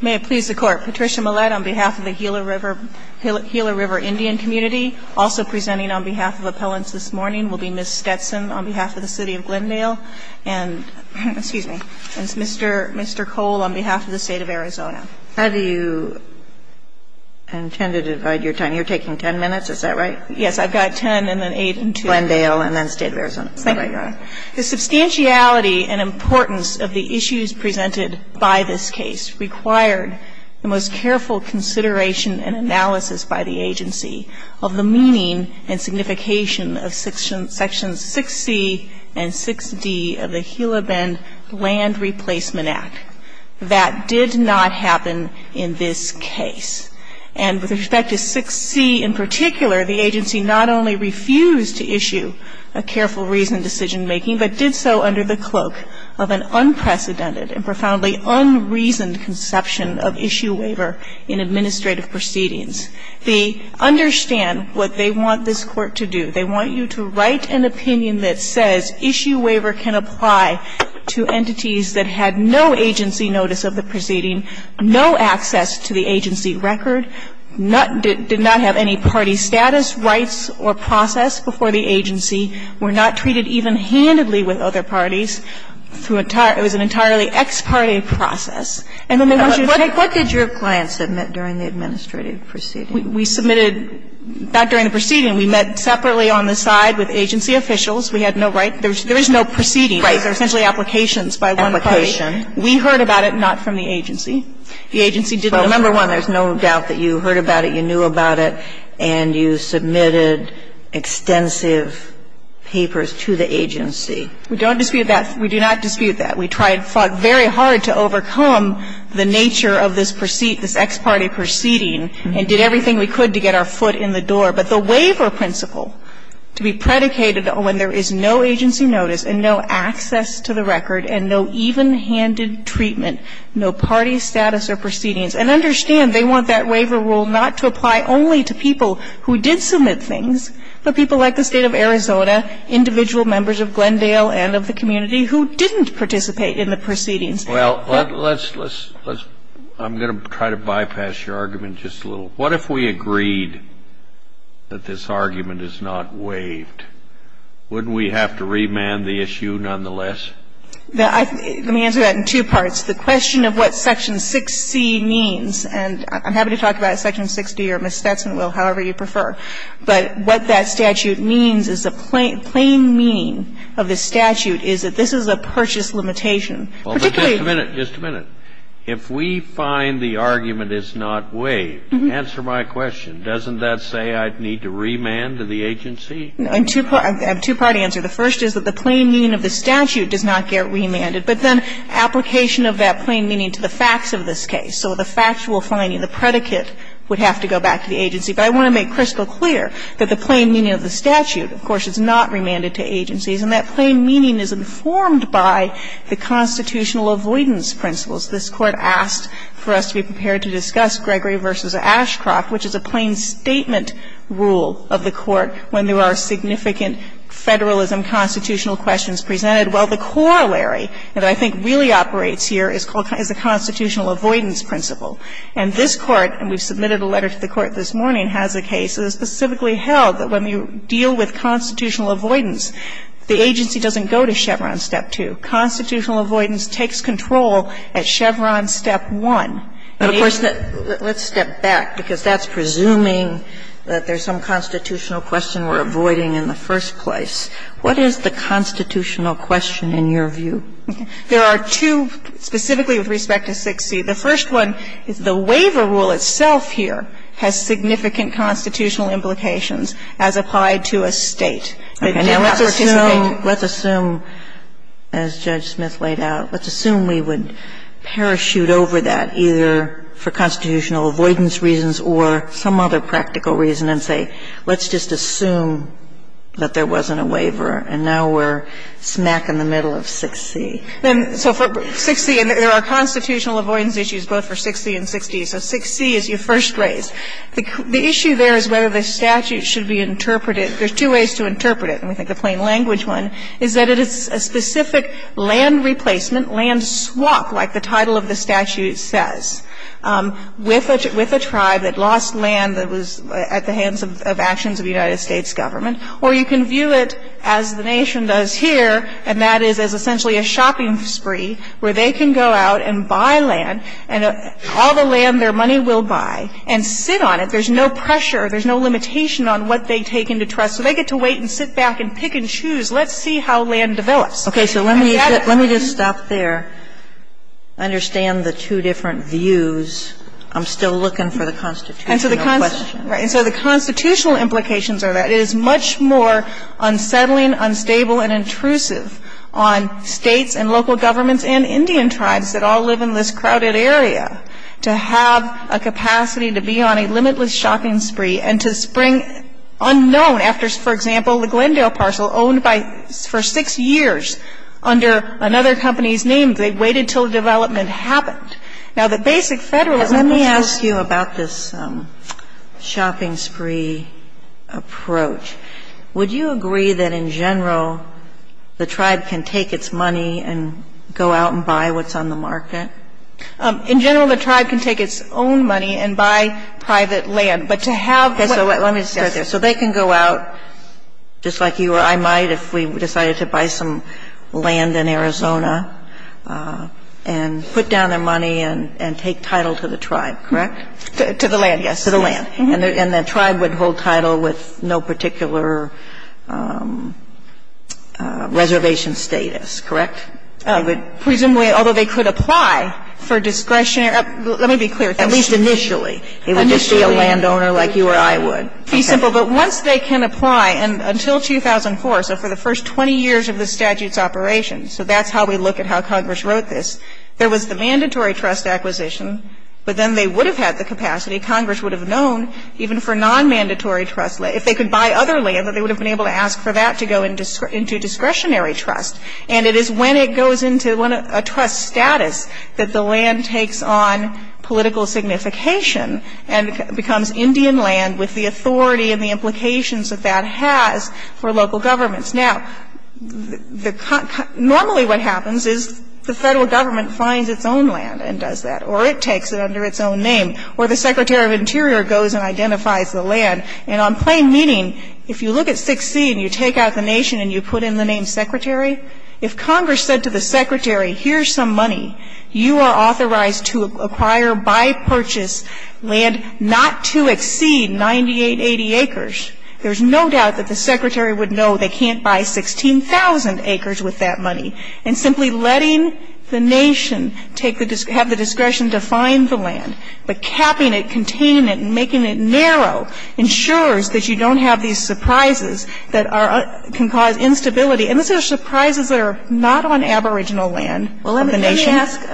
May it please the Court, Patricia Millett on behalf of the Gila River Indian community. Also presenting on behalf of appellants this morning will be Ms. Stetson on behalf of the City of Glendale and, excuse me, Mr. Cole on behalf of the State of Arizona. How do you intend to divide your time? You're taking 10 minutes, is that right? Yes, I've got 10 and then 8 and 2. Glendale and then State of Arizona. Thank you, Your Honor. The substantiality and importance of the issues presented by this case required the most careful consideration and analysis by the agency of the meaning and signification of Sections 6C and 6D of the Gila Bend Land Replacement Act. That did not happen in this case. And with respect to 6C in particular, the agency not only refused to issue a careful reasoned decision-making, but did so under the cloak of an unprecedented and profoundly unreasoned conception of issue waiver in administrative proceedings. They understand what they want this Court to do. They want you to write an opinion that says issue waiver can apply to entities that had no agency notice of the proceeding, no access to the agency record, did not have any party status, rights, or process before the agency, were not treated even handedly with other parties, through an entirely ex parte process. And then they want you to take. What did your client submit during the administrative proceeding? We submitted not during the proceeding. We met separately on the side with agency officials. We had no right. There is no proceeding. Right. Application. We heard about it, not from the agency. The agency did not. So number one, there's no doubt that you heard about it, you knew about it, and you submitted extensive papers to the agency. We don't dispute that. We do not dispute that. We tried, fought very hard to overcome the nature of this ex parte proceeding and did everything we could to get our foot in the door. But the waiver principle to be predicated when there is no agency notice and no access to the record and no even to the agency's status or proceedings. And understand, they want that waiver rule not to apply only to people who did submit things, but people like the State of Arizona, individual members of Glendale and of the community who didn't participate in the proceedings. Well, let's, let's, let's, I'm going to try to bypass your argument just a little. What if we agreed that this argument is not waived? Wouldn't we have to remand the issue nonetheless? Let me answer that in two parts. The question of what Section 6C means, and I'm happy to talk about Section 6D or Ms. Stetson will, however you prefer. But what that statute means is the plain, plain meaning of the statute is that this is a purchase limitation. Well, but just a minute, just a minute. If we find the argument is not waived, answer my question. Doesn't that say I'd need to remand to the agency? I have a two-part answer. The first is that the plain meaning of the statute does not get remanded. But then application of that plain meaning to the facts of this case. So the factual finding, the predicate, would have to go back to the agency. But I want to make crystal clear that the plain meaning of the statute, of course, is not remanded to agencies, and that plain meaning is informed by the constitutional avoidance principles. This Court asked for us to be prepared to discuss Gregory v. Ashcroft, which is a plain meaning statement rule of the Court when there are significant Federalism constitutional questions presented. Well, the corollary that I think really operates here is a constitutional avoidance principle. And this Court, and we've submitted a letter to the Court this morning, has a case specifically held that when you deal with constitutional avoidance, the agency doesn't go to Chevron Step 2. Constitutional avoidance takes control at Chevron Step 1. But, of course, let's step back, because that's presuming that there's some constitutional question we're avoiding in the first place. What is the constitutional question in your view? There are two, specifically with respect to 6C. The first one is the waiver rule itself here has significant constitutional implications as applied to a State that did not participate in it. Okay. Now, let's assume, as Judge Smith laid out, let's assume we would parachute over that either for constitutional avoidance reasons or some other practical reason and say, let's just assume that there wasn't a waiver. And now we're smack in the middle of 6C. Then, so for 6C, and there are constitutional avoidance issues both for 6C and 6D. So 6C is your first race. The issue there is whether the statute should be interpreted. There's two ways to interpret it, and we think the plain language one is that it is a specific land replacement, land swap, like the title of the statute says, with a tribe that lost land that was at the hands of actions of the United States government. Or you can view it as the Nation does here, and that is as essentially a shopping spree where they can go out and buy land, and all the land their money will buy, and sit on it. There's no pressure. There's no limitation on what they take into trust. So they get to wait and sit back and pick and choose. Let's see how land develops. Sotomayor, let me just stop there. I understand the two different views. I'm still looking for the constitutional question. And so the constitutional implications are that it is much more unsettling, unstable, and intrusive on States and local governments and Indian tribes that all live in this crowded area to have a capacity to be on a limitless shopping spree and to spring unknown after, for example, the Glendale parcel owned for six years under another company's name. They waited until the development happened. Now, the basic Federalism of this Court ---- Sotomayor, let me ask you about this shopping spree approach. Would you agree that in general the tribe can take its money and go out and buy what's on the market? In general, the tribe can take its own money and buy private land. But to have ---- Okay. So let me start there. So they can go out, just like you or I might if we decided to buy some land in Arizona, and put down their money and take title to the tribe, correct? To the land, yes. To the land. And the tribe would hold title with no particular reservation status, correct? Presumably, although they could apply for discretionary ---- let me be clear. At least initially. Initially. They can't be a landowner like you or I would. Be simple. But once they can apply, and until 2004, so for the first 20 years of the statute's operation, so that's how we look at how Congress wrote this, there was the mandatory trust acquisition, but then they would have had the capacity, Congress would have known, even for nonmandatory trust, if they could buy other land, that they would have been able to ask for that to go into discretionary trust. And it is when it goes into a trust status that the land takes on political signification and becomes Indian land with the authority and the implications that that has for local governments. Now, normally what happens is the Federal Government finds its own land and does that, or it takes it under its own name, or the Secretary of Interior goes and identifies the land. And on plain meaning, if you look at 6C and you take out the nation and you put in the name Secretary, if Congress said to the Secretary, here's some money, you are allowed to purchase land not to exceed 9880 acres, there's no doubt that the Secretary would know they can't buy 16,000 acres with that money. And simply letting the nation take the – have the discretion to find the land, but capping it, containing it, and making it narrow ensures that you don't have these surprises that are – can cause instability. And these are surprises that are not on aboriginal land of the nation. And I want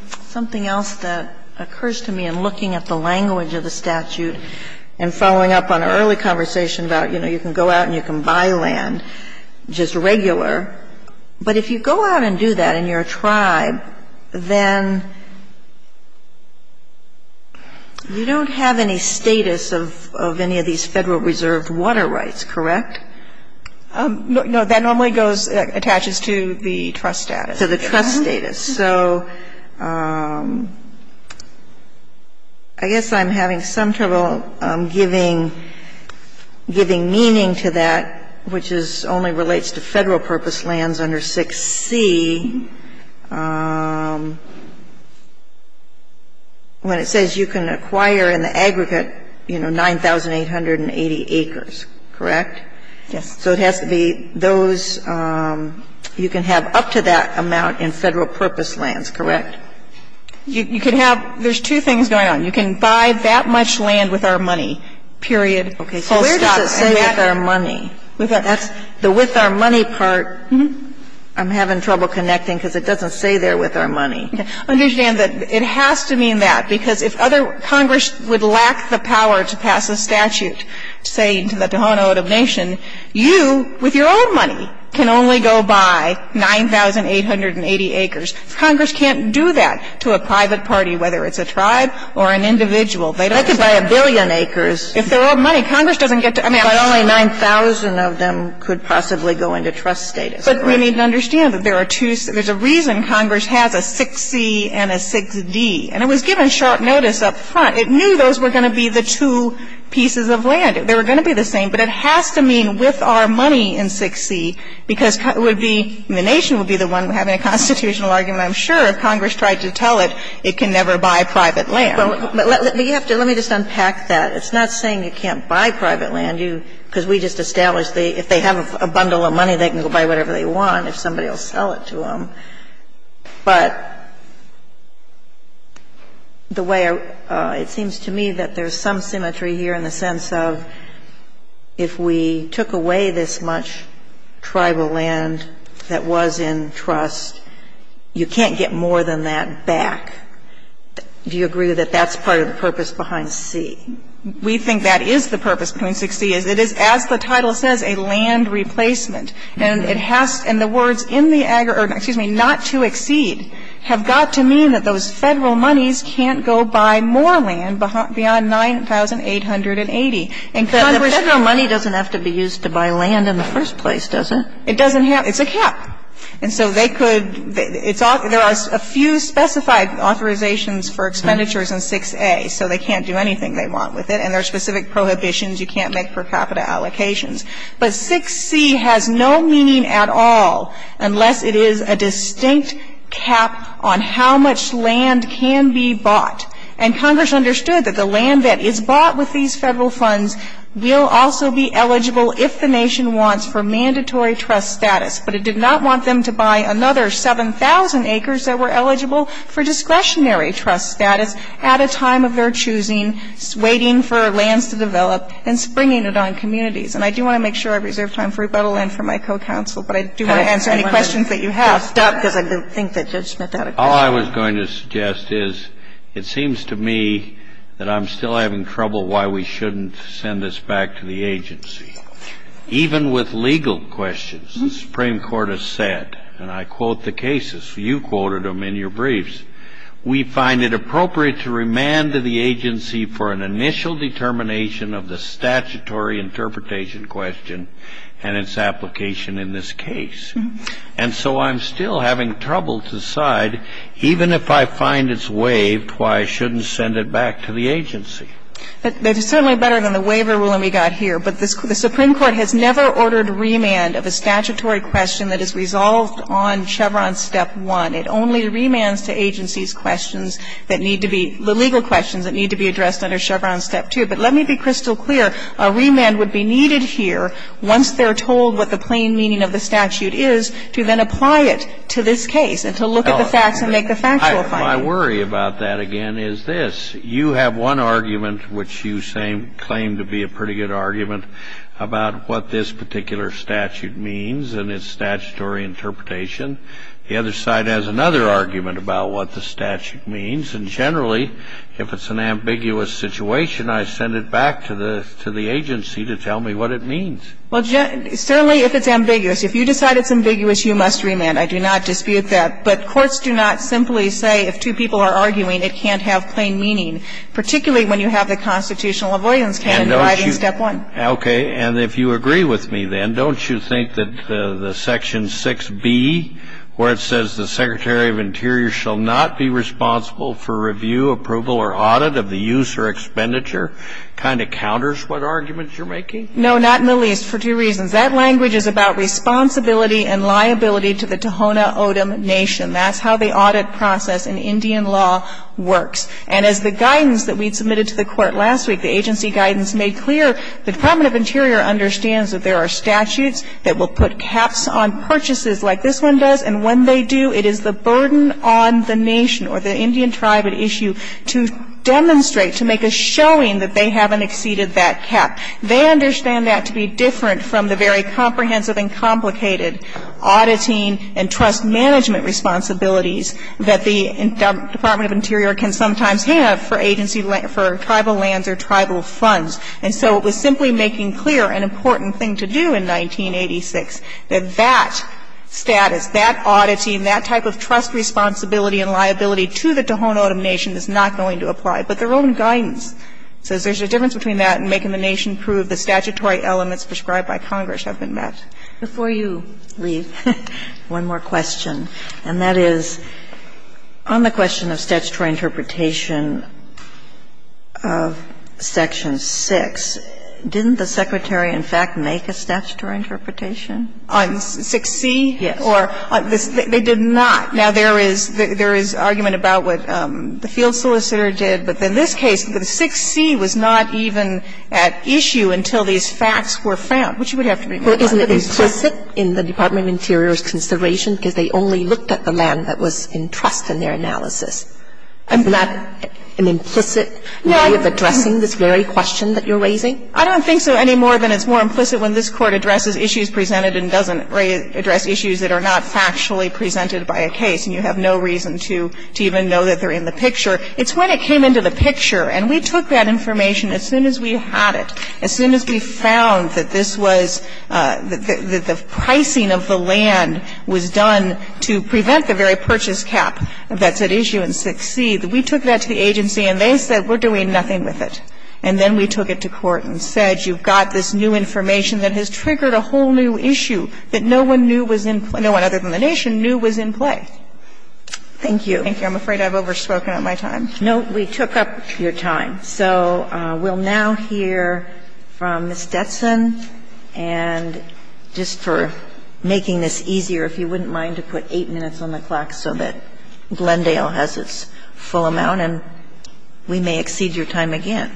to ask something else that occurs to me in looking at the language of the statute and following up on an early conversation about, you know, you can go out and you can buy land, just regular. But if you go out and do that and you're a tribe, then you don't have any status of any of these Federal reserved water rights, correct? No, that normally goes – attaches to the trust status. So I guess I'm having some trouble giving meaning to that, which is only relates to Federal purpose lands under 6C, when it says you can acquire in the aggregate, you know, 9880 acres, correct? Yes. So it has to be those – you can have up to that amount of land, up to that amount in Federal purpose lands, correct? You can have – there's two things going on. You can buy that much land with our money, period, full stop. Okay. So where does it say with our money? That's the with our money part. I'm having trouble connecting because it doesn't say there with our money. Understand that it has to mean that, because if other – Congress would lack the power to pass a statute saying to the Tohono O'odham Nation, you with your own money can only go buy 9,880 acres, Congress can't do that to a private party, whether it's a tribe or an individual. They don't get to buy a billion acres. If their own money, Congress doesn't get to – I mean, I don't know. But only 9,000 of them could possibly go into trust status, correct? But we need to understand that there are two – there's a reason Congress has a 6C and a 6D. And it was given short notice up front. It knew those were going to be the two pieces of land. They were going to be the same, but it has to mean with our money in 6C, because it would be – the Nation would be the one having a constitutional argument. I'm sure if Congress tried to tell it, it can never buy private land. But you have to – let me just unpack that. It's not saying you can't buy private land. You – because we just established if they have a bundle of money, they can go buy whatever they want if somebody will sell it to them. But the way – it seems to me that there's some symmetry here in the sense of if we took away this much tribal land that was in trust, you can't get more than that back. Do you agree that that's part of the purpose behind C? We think that is the purpose behind 6C, is it is, as the title says, a land replacement. And it has – and the words in the – excuse me, not to exceed, have got to mean that those Federal monies can't go buy more land beyond 9,880. And Congress can't. But the Federal money doesn't have to be used to buy land in the first place, does it? It doesn't have – it's a cap. And so they could – it's – there are a few specified authorizations for expenditures in 6A, so they can't do anything they want with it. And there are specific prohibitions. You can't make per capita allocations. But 6C has no meaning at all unless it is a distinct cap on how much land can be bought. And Congress understood that the land that is bought with these Federal funds will also be eligible if the nation wants for mandatory trust status. But it did not want them to buy another 7,000 acres that were eligible for discretionary trust status at a time of their choosing, waiting for lands to develop, and springing it on communities. And I do want to make sure I reserve time for rebuttal and for my co-counsel, but I do want to answer any questions that you have. Sotomayor, stop, because I don't think that Judge Smith had a question. All I was going to suggest is it seems to me that I'm still having trouble why we shouldn't send this back to the agency. Even with legal questions, the Supreme Court has said, and I quote the cases. You quoted them in your briefs. We find it appropriate to remand to the agency for an initial determination of the statutory interpretation question and its application in this case. And so I'm still having trouble to decide, even if I find it's waived, why I shouldn't send it back to the agency. But it's certainly better than the waiver ruling we got here. But the Supreme Court has never ordered remand of a statutory question that is resolved on Chevron Step 1. It only remands to agencies questions that need to be the legal questions that need to be addressed under Chevron Step 2. But let me be crystal clear. A remand would be needed here, once they're told what the plain meaning of the statute is, to then apply it to this case and to look at the facts and make the factual findings. Kennedy. My worry about that, again, is this. You have one argument, which you claim to be a pretty good argument, about what this particular statute means and its statutory interpretation. The other side has another argument about what the statute means. And generally, if it's an ambiguous situation, I send it back to the agency to tell me what it means. Well, certainly if it's ambiguous. If you decide it's ambiguous, you must remand. I do not dispute that. But courts do not simply say if two people are arguing, it can't have plain meaning, particularly when you have the constitutional avoidance candidate driving Step 1. Okay. And if you agree with me, then, don't you think that the Section 6b, where it says the Secretary of Interior shall not be responsible for review, approval, or audit of the use or expenditure, kind of counters what arguments you're making? No, not in the least, for two reasons. That language is about responsibility and liability to the Tohono O'odham Nation. That's how the audit process in Indian law works. And as the guidance that we submitted to the Court last week, the agency guidance made clear, the Department of Interior understands that there are statutes that will put caps on purchases like this one does, and when they do, it is the burden on the Nation or the Indian tribe at issue to demonstrate, to make a showing that they haven't exceeded that cap. They understand that to be different from the very comprehensive and complicated auditing and trust management responsibilities that the Department of Interior can sometimes have for agency lands, for tribal lands or tribal funds. And so it was simply making clear, an important thing to do in 1986, that that status, that auditing, that type of trust responsibility and liability to the Tohono O'odham Nation is not going to apply, but their own guidance says there's a difference between that and making the Nation prove the statutory elements prescribed by Congress have been met. Before you leave, one more question, and that is on the question of statutory interpretation of Section 6, didn't the Secretary, in fact, make a statutory interpretation on 6C? Or they did not. Now, there is argument about what the field solicitor did, but in this case, 6C was not even at issue until these facts were found, which would have to be brought up. And I'm not sure that that's a legitimate question because they only looked at the land that was in trust in their analysis. Is that an implicit way of addressing this very question that you're raising? I don't think so any more than it's more implicit when this Court addresses issues presented and doesn't address issues that are not factually presented by a case, and you have no reason to even know that they're in the picture. It's when it came into the picture, and we took that information as soon as we had it, as soon as we found that this was the pricing of the land was done to prevent the very purchase cap that's at issue in 6C, that we took that to the agency and they said we're doing nothing with it. And then we took it to court and said you've got this new information that has triggered a whole new issue that no one knew was in play, no one other than the nation knew was in play. Thank you. Thank you. I'm afraid I've overspoken on my time. No, we took up your time. So we'll now hear from Ms. Stetson, and just for making this easier, if you wouldn't mind to put 8 minutes on the clock so that Glendale has its full amount, and we may exceed your time again.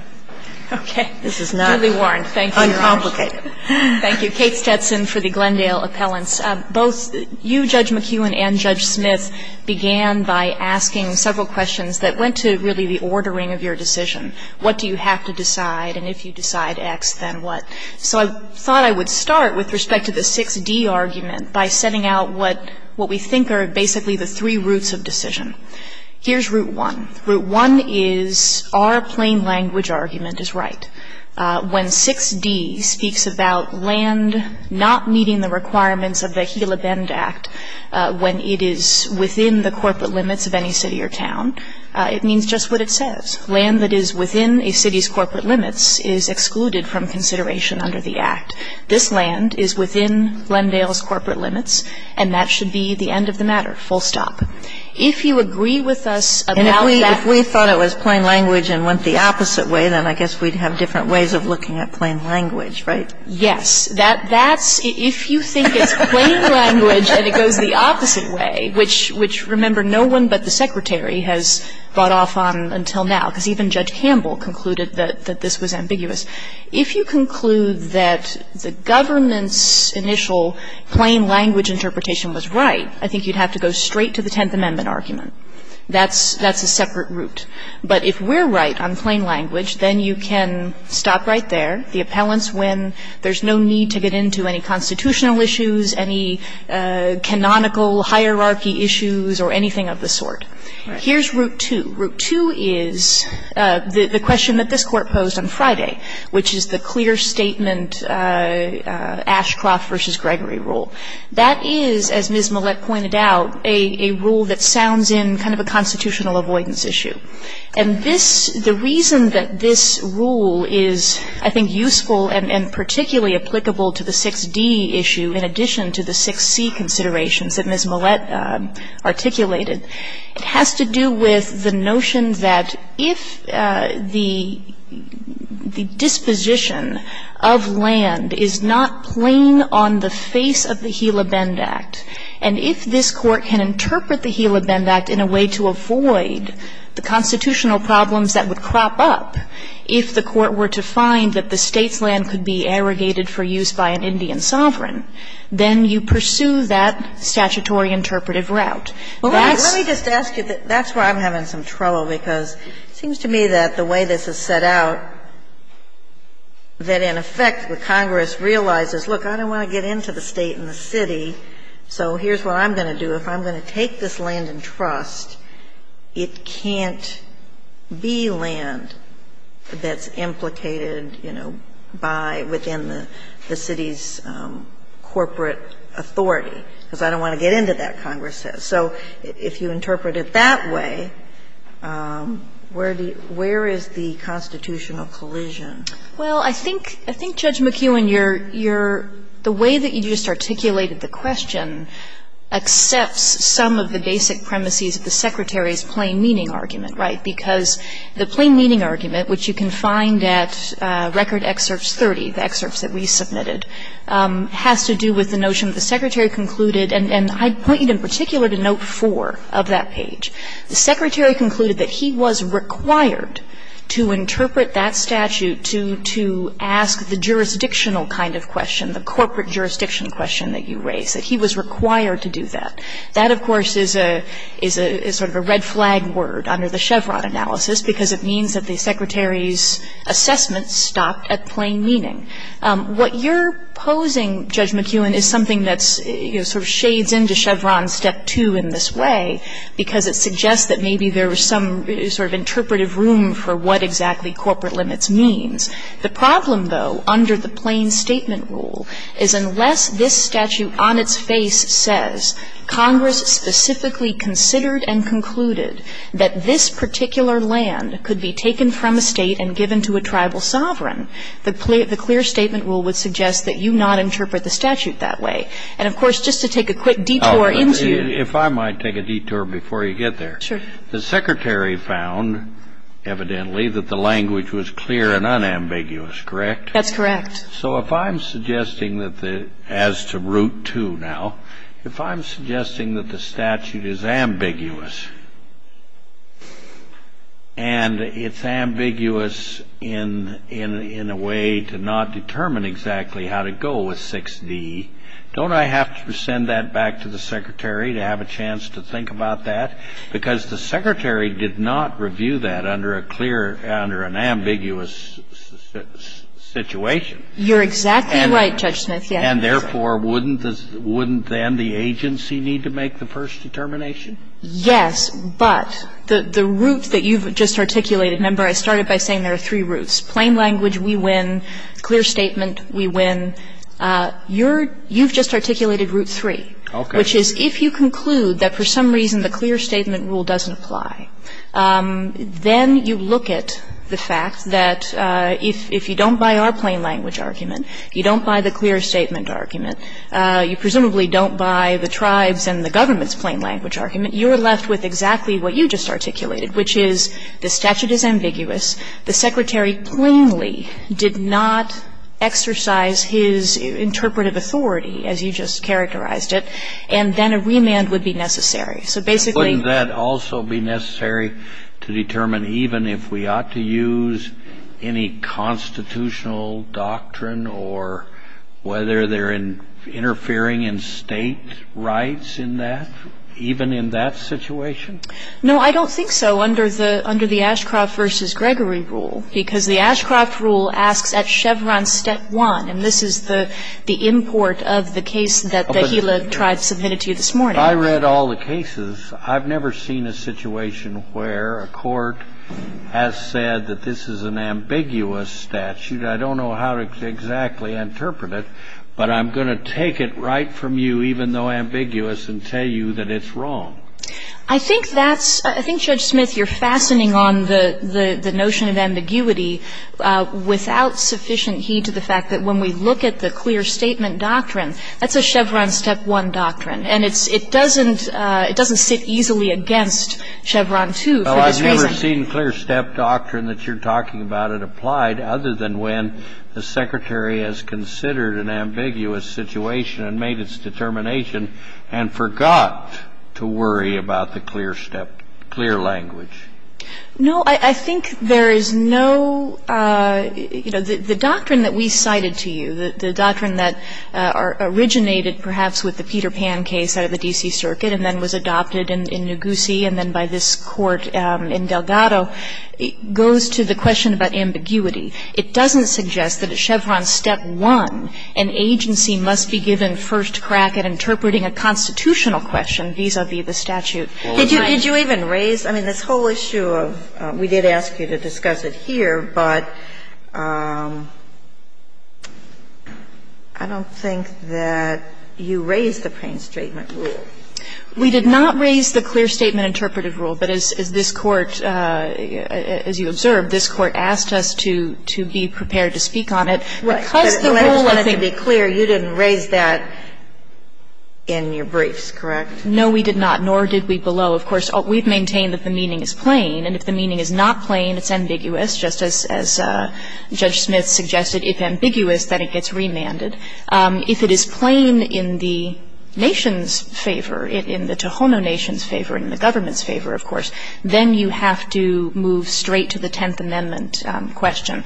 This is not uncomplicated. Okay. Julie Warren, thank you, Your Honor. Thank you. Kate Stetson for the Glendale appellants. Both you, Judge McEwen, and Judge Smith began by asking several questions that went to really the ordering of your decision. What do you have to decide? And if you decide X, then what? So I thought I would start with respect to the 6D argument by setting out what we think are basically the three roots of decision. Here's Route 1. Route 1 is our plain language argument is right. When 6D speaks about land not meeting the requirements of the Gila Bend Act when it is within the corporate limits of any city or town, it means just what it says. Land that is within a city's corporate limits is excluded from consideration under the Act. This land is within Glendale's corporate limits, and that should be the end of the matter, full stop. If you agree with us about that ---- And if we thought it was plain language and went the opposite way, then I guess we'd have different ways of looking at plain language, right? Yes. If you think it's plain language and it goes the opposite way, which, remember, no one but the Secretary has bought off on until now, because even Judge Campbell concluded that this was ambiguous, if you conclude that the government's initial plain language interpretation was right, I think you'd have to go straight to the Tenth Amendment argument. That's a separate route. But if we're right on plain language, then you can stop right there. The appellants win. There's no need to get into any constitutional issues, any canonical hierarchy issues, or anything of the sort. Right. Here's Route 2. Route 2 is the question that this Court posed on Friday, which is the clear statement Ashcroft v. Gregory rule. That is, as Ms. Millett pointed out, a rule that sounds in kind of a constitutional avoidance issue. And this, the reason that this rule is, I think, useful and particularly applicable to the 6d issue in addition to the 6c considerations that Ms. Millett articulated, it has to do with the notion that if the disposition of land is not plain on the face of the Gila Bend Act, and if this Court can interpret the Gila Bend Act in a way to avoid the constitutional problems that would crop up if the Court were to find that the State's land could be arrogated for use by an Indian sovereign, then you pursue that statutory interpretive route. That's why I'm having some trouble, because it seems to me that the way this is set out, that in effect the Congress realizes, look, I don't want to get into the State and the city, so here's what I'm going to do. If I'm going to take this land in trust, it can't be land that's implicated, you know, by, within the city's corporate authority, because I don't want to get into that, Congress says. So if you interpret it that way, where do you – where is the constitutional collision? Well, I think – I think, Judge McEwen, you're – the way that you just articulated the question accepts some of the basic premises of the Secretary's plain meaning argument, right, because the plain meaning argument, which you can find at Record Excerpts 30, the excerpts that we submitted, has to do with the notion that the Secretary concluded, and I'd point you in particular to Note 4 of that page, the Secretary concluded that he was required to interpret that statute to ask the jurisdictional kind of question, the corporate jurisdiction question that you raise, that he was required to do that. That, of course, is a – is a – is sort of a red flag word under the Chevron analysis, because it means that the Secretary's assessment stopped at plain meaning. What you're posing, Judge McEwen, is something that's – you know, sort of shades into Chevron Step 2 in this way, because it suggests that maybe there was some sort of interpretive room for what exactly corporate limits means. The problem, though, under the plain statement rule, is unless this statute on its face says, Congress specifically considered and concluded that this particular land could be taken from a State and given to a tribal sovereign, the clear statement rule would suggest that you not interpret the statute that way. And, of course, just to take a quick detour into your – Oh, if I might take a detour before you get there. Sure. The Secretary found, evidently, that the language was clear and unambiguous, correct? That's correct. So if I'm suggesting that the – as to Route 2 now, if I'm suggesting that the statute is ambiguous, and it's ambiguous in a way to not determine exactly how to go with 6D, don't I have to send that back to the Secretary to have a chance to think about that? Because the Secretary did not review that under a clear – under an ambiguous situation. You're exactly right, Judge Smith, yes. And therefore, wouldn't the – wouldn't then the agency need to make the first determination? Yes, but the – the route that you've just articulated – remember, I started by saying there are three routes, plain language, we win, clear statement, we win. Your – you've just articulated Route 3. Okay. Which is, if you conclude that for some reason the clear statement rule doesn't apply, then you look at the fact that if you don't buy our plain language argument, you don't buy the clear statement argument, you presumably don't buy the tribes' and the government's plain language argument, you're left with exactly what you just articulated, which is the statute is ambiguous, the Secretary plainly did not exercise his interpretive authority, as you just characterized it, and then a remand would be necessary. So basically – Wouldn't that also be necessary to determine even if we ought to use any constitutional doctrine or whether they're interfering in state rights in that, even in that situation? No, I don't think so under the – under the Ashcroft v. Gregory rule, because the Ashcroft rule asks at Chevron step one, and this is the – the import of the case that the Gila tribes submitted to you this morning. I read all the cases. I've never seen a situation where a court has said that this is an ambiguous statute. I don't know how to exactly interpret it, but I'm going to take it right from you, even though ambiguous, and tell you that it's wrong. I think that's – I think, Judge Smith, you're fastening on the – the notion of ambiguity without sufficient heed to the fact that when we look at the clear statement doctrine, that's a Chevron step one doctrine, and it's – it doesn't – it doesn't sit easily against Chevron two for this reason. Well, I've never seen clear step doctrine that you're talking about it applied other than when the Secretary has considered an ambiguous situation and made its determination and forgot to worry about the clear step – clear language. No, I think there is no – you know, the doctrine that we cited to you, the doctrine that originated perhaps with the Peter Pan case out of the D.C. Circuit and then was adopted in Noguse and then by this Court in Delgado, goes to the question about ambiguity. It doesn't suggest that at Chevron step one, an agency must be given first crack at interpreting a constitutional question vis-a-vis the statute. Did you even raise – I mean, this whole issue of – we did ask you to discuss it here, but I don't think that you raised the plain statement rule. We did not raise the clear statement interpretive rule, but as this Court – as you observed, this Court asked us to – to be prepared to speak on it because the rule of the – Right. But let's just be clear, you didn't raise that in your briefs, correct? No, we did not, nor did we below. Of course, we've maintained that the meaning is plain, and if the meaning is not ambiguous, just as Judge Smith suggested, if ambiguous, then it gets remanded. If it is plain in the nation's favor, in the Tohono Nation's favor, in the government's favor, of course, then you have to move straight to the Tenth Amendment question.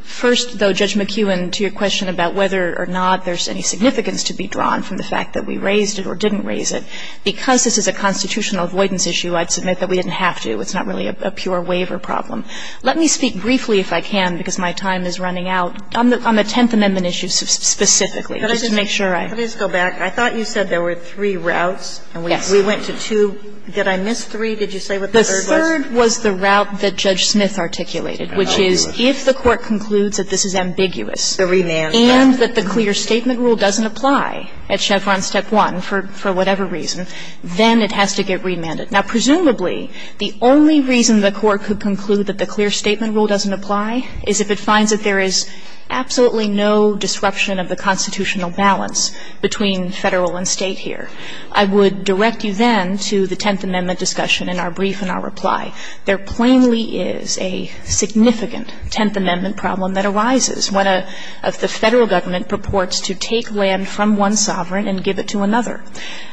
First, though, Judge McKeown, to your question about whether or not there's any significance to be drawn from the fact that we raised it or didn't raise it, because this is a constitutional avoidance issue, I'd submit that we didn't have to. It's not really a pure waiver problem. Let me speak briefly, if I can, because my time is running out, on the – on the Tenth Amendment issue specifically, just to make sure I – Let me just go back. I thought you said there were three routes, and we went to two. Did I miss three? Did you say what the third was? The third was the route that Judge Smith articulated, which is if the Court concludes that this is ambiguous, and that the clear statement rule doesn't apply at Chevron Step 1, for whatever reason, then it has to get remanded. Now, presumably, the only reason the Court could conclude that the clear statement rule doesn't apply is if it finds that there is absolutely no disruption of the constitutional balance between Federal and State here. I would direct you then to the Tenth Amendment discussion in our brief and our reply. There plainly is a significant Tenth Amendment problem that arises when a – if the Federal Government purports to take land from one sovereign and give it to another.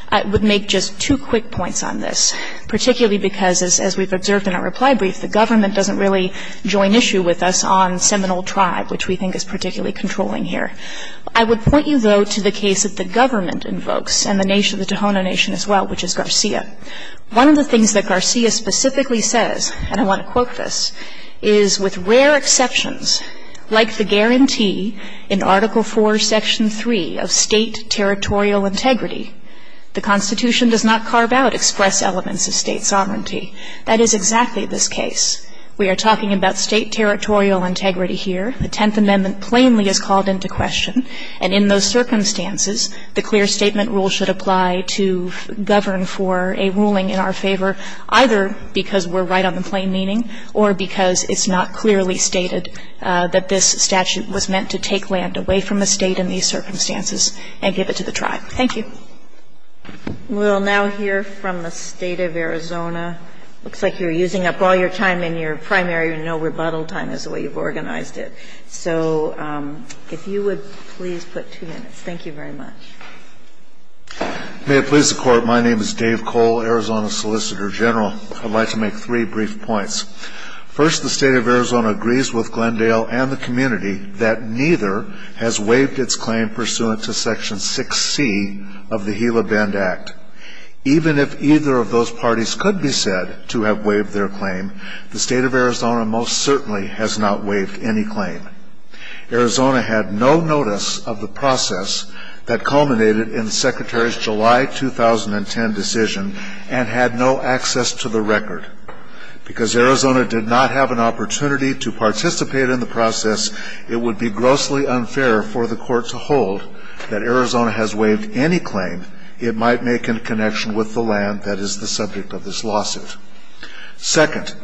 I would make just two quick points on this. Particularly because, as we've observed in our reply brief, the government doesn't really join issue with us on Seminole Tribe, which we think is particularly controlling here. I would point you, though, to the case that the government invokes, and the nation – the Tohono Nation as well, which is Garcia. One of the things that Garcia specifically says, and I want to quote this, is, with rare exceptions, like the guarantee in Article IV, Section 3, of State territorial integrity, the Constitution does not carve out express elements of State sovereignty. That is exactly this case. We are talking about State territorial integrity here. The Tenth Amendment plainly is called into question. And in those circumstances, the clear statement rule should apply to govern for a ruling in our favor, either because we're right on the plain meaning or because it's not clearly stated that this statute was meant to take land away from the State in these circumstances and give it to the Tribe. Thank you. We'll now hear from the State of Arizona. It looks like you're using up all your time in your primary, no rebuttal time is the way you've organized it. So if you would please put two minutes. Thank you very much. May it please the Court, my name is Dave Cole, Arizona Solicitor General. I'd like to make three brief points. First, the State of Arizona agrees with Glendale and the community that neither has waived its claim pursuant to Section 6C of the Gila Bend Act. Even if either of those parties could be said to have waived their claim, the State of Arizona most certainly has not waived any claim. Arizona had no notice of the process that culminated in Secretary's July 2010 decision and had no access to the record. Because Arizona did not have an opportunity to participate in the process, it would be unfair for the Court to hold that Arizona has waived any claim it might make in connection with the land that is the subject of this lawsuit. Second,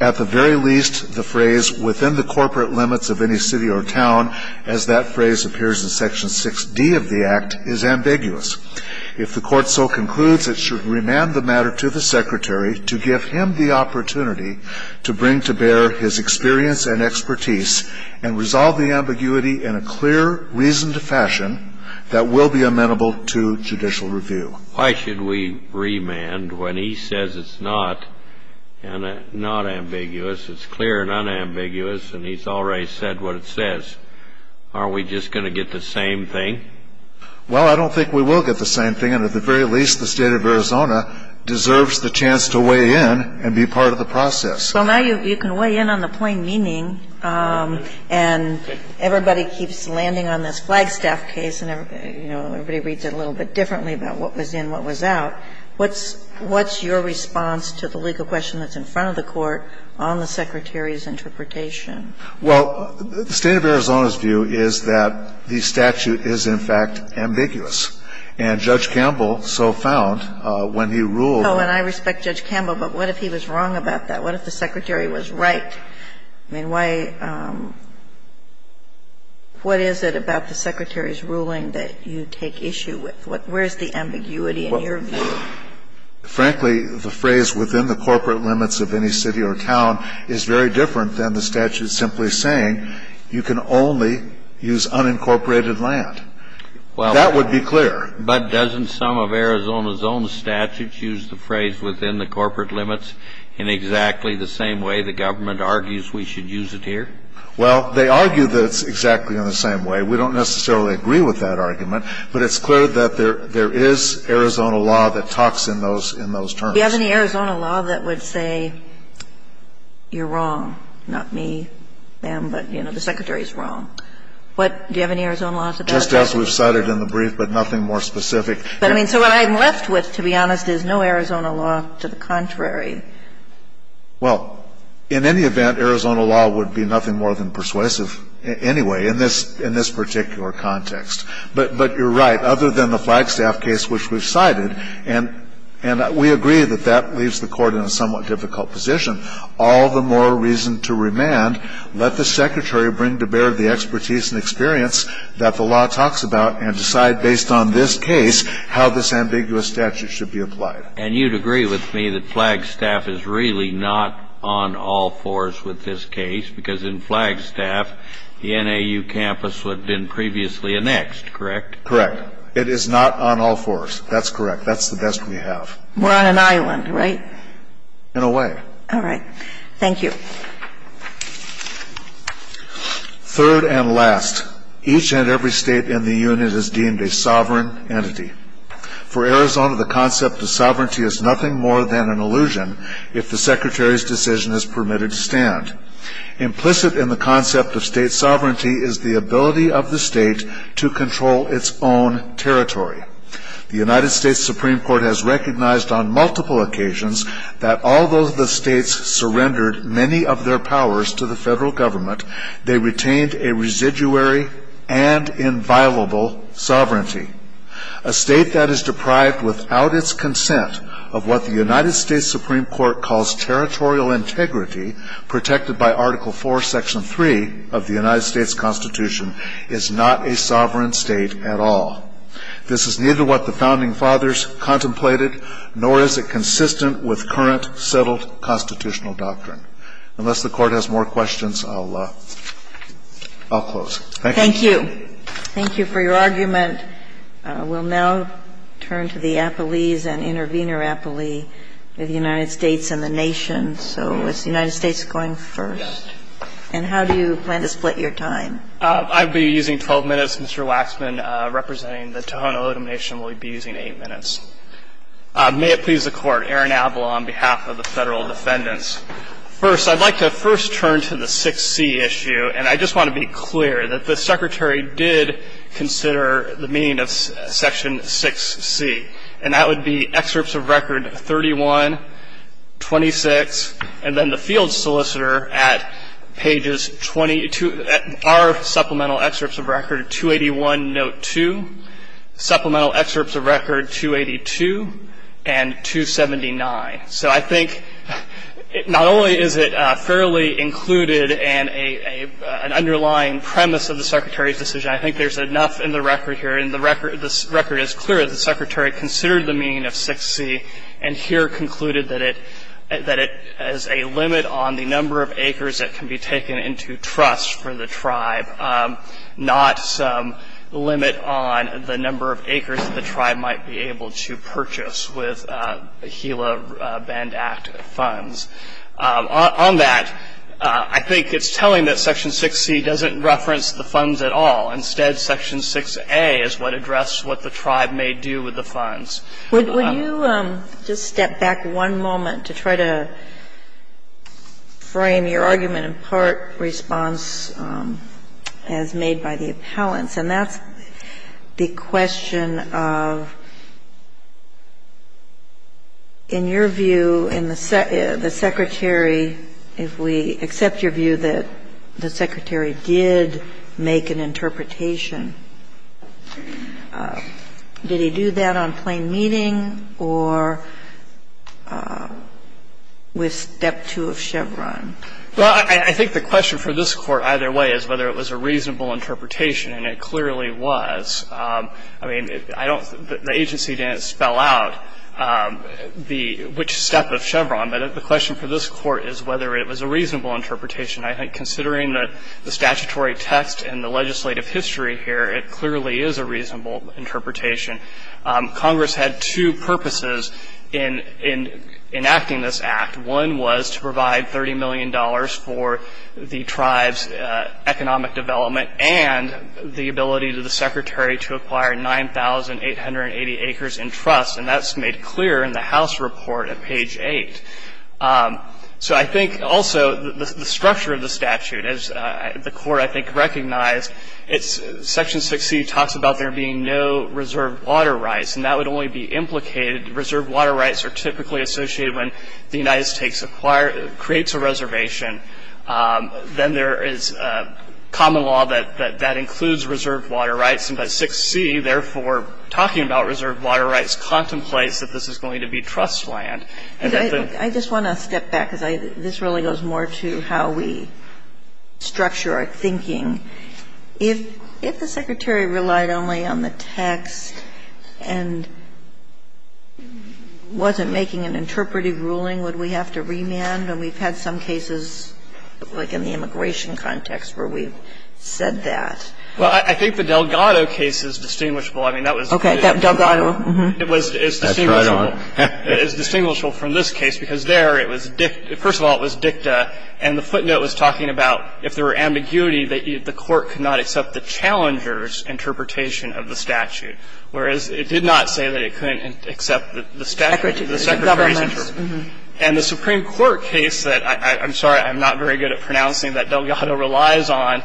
at the very least, the phrase, within the corporate limits of any city or town, as that phrase appears in Section 6D of the Act, is ambiguous. If the Court so concludes, it should remand the matter to the Secretary to give him the ambiguity in a clear, reasoned fashion that will be amenable to judicial review. Why should we remand when he says it's not, and not ambiguous, it's clear and unambiguous, and he's already said what it says? Aren't we just going to get the same thing? Well, I don't think we will get the same thing, and at the very least, the State of Arizona deserves the chance to weigh in and be part of the process. Well, now you can weigh in on the plain meaning, and everybody keeps landing on this Flagstaff case, and everybody reads it a little bit differently about what was in, what was out. What's your response to the legal question that's in front of the Court on the Secretary's interpretation? Well, the State of Arizona's view is that the statute is, in fact, ambiguous. And Judge Campbell so found when he ruled on it. Oh, and I respect Judge Campbell, but what if he was wrong about that? What if the Secretary was right? I mean, why – what is it about the Secretary's ruling that you take issue with? Where's the ambiguity in your view? Frankly, the phrase within the corporate limits of any city or town is very different than the statute simply saying you can only use unincorporated land. That would be clear. But doesn't some of Arizona's own statutes use the phrase within the corporate limits in exactly the same way the government argues we should use it here? Well, they argue that it's exactly in the same way. We don't necessarily agree with that argument, but it's clear that there is Arizona law that talks in those terms. Do you have any Arizona law that would say you're wrong, not me, them, but, you know, the Secretary's wrong? What – do you have any Arizona laws about that? Just as we've cited in the brief, but nothing more specific. But, I mean, so what I'm left with, to be honest, is no Arizona law to the contrary. Well, in any event, Arizona law would be nothing more than persuasive anyway in this particular context. But you're right. Other than the Flagstaff case, which we've cited, and we agree that that leaves the Court in a somewhat difficult position, all the more reason to remand, let the Secretary bring to bear the expertise and experience that the law talks about and decide based on this case how this ambiguous statute should be applied. And you'd agree with me that Flagstaff is really not on all fours with this case because in Flagstaff, the NAU campus would have been previously annexed, correct? Correct. It is not on all fours. That's correct. That's the best we have. We're on an island, right? In a way. All right. Thank you. Third and last, each and every state in the unit is deemed a sovereign entity. For Arizona, the concept of sovereignty is nothing more than an illusion if the Secretary's decision is permitted to stand. Implicit in the concept of state sovereignty is the ability of the state to control its own territory. The United States Supreme Court has recognized on multiple occasions that although the states surrendered many of their powers to the federal government, they retained a residuary and inviolable sovereignty. A state that is deprived without its consent of what the United States Supreme Court calls territorial integrity protected by Article IV, Section 3 of the United States Constitution is not a sovereign state at all. This is neither what the Founding Fathers contemplated nor is it consistent with current settled constitutional doctrine. Unless the Court has more questions, I'll close. Thank you. Thank you. Thank you for your argument. We'll now turn to the appellees and intervenor appellee of the United States and the nation. So is the United States going first? Yes. And how do you plan to split your time? I'll be using 12 minutes. Mr. Waxman, representing the Tohono O'odham Nation, will be using 8 minutes. May it please the Court, Aaron Abloh on behalf of the Federal Defendants. First, I'd like to first turn to the 6C issue, and I just want to be clear that the Secretary did consider the meaning of Section 6C, and that would be excerpts of record 31, 26, and then the field solicitor at pages 22, our supplemental excerpts of record 281, note 2, supplemental excerpts of record 282, and 279. So I think not only is it fairly included in an underlying premise of the Secretary's decision, I think there's enough in the record here. And the record is clear that the Secretary considered the meaning of 6C and here concluded that it is a limit on the number of acres that can be taken into trust for the tribe, not some limit on the number of acres that the tribe might be able to purchase with HILA Band Act funds. On that, I think it's telling that Section 6C doesn't reference the funds at all. Instead, Section 6A is what addresses what the tribe may do with the funds. Sotomayor, would you just step back one moment to try to frame your argument in part response as made by the appellants? And that's the question of, in your view, in the Secretary, if we accept your view that the Secretary did make an interpretation, did he do that on plain notice? interpretation? Was it a reasonable interpretation at the meeting or with Step 2 of Chevron? Well, I think the question for this Court either way is whether it was a reasonable two purposes in enacting this act. One was to provide $30 million for the tribe's economic development and the ability to the Secretary to acquire 9,880 acres in trust. And that's made clear in the House report at page 8. So I think also the structure of the statute, as the Court, I think, recognized, Section 6C talks about there being no reserve water rights. And that would only be implicated, reserve water rights are typically associated when the United States creates a reservation. Then there is common law that that includes reserve water rights. And by 6C, therefore, talking about reserve water rights contemplates that this is going to be trust land. I just want to step back because this really goes more to how we structure our thinking. If the Secretary relied only on the text and wasn't making an interpretive ruling, would we have to remand? And we've had some cases, like in the immigration context, where we've said that. Well, I think the Delgado case is distinguishable. I mean, that was the case. Okay. Delgado. It was. That's right on. It's distinguishable from this case because there it was dicta. First of all, it was dicta. And the footnote was talking about if there were ambiguity, the Court could not accept the challenger's interpretation of the statute, whereas it did not say that it couldn't accept the statute, the Secretary's interpretation. And the Supreme Court case that I'm sorry I'm not very good at pronouncing that Delgado relies on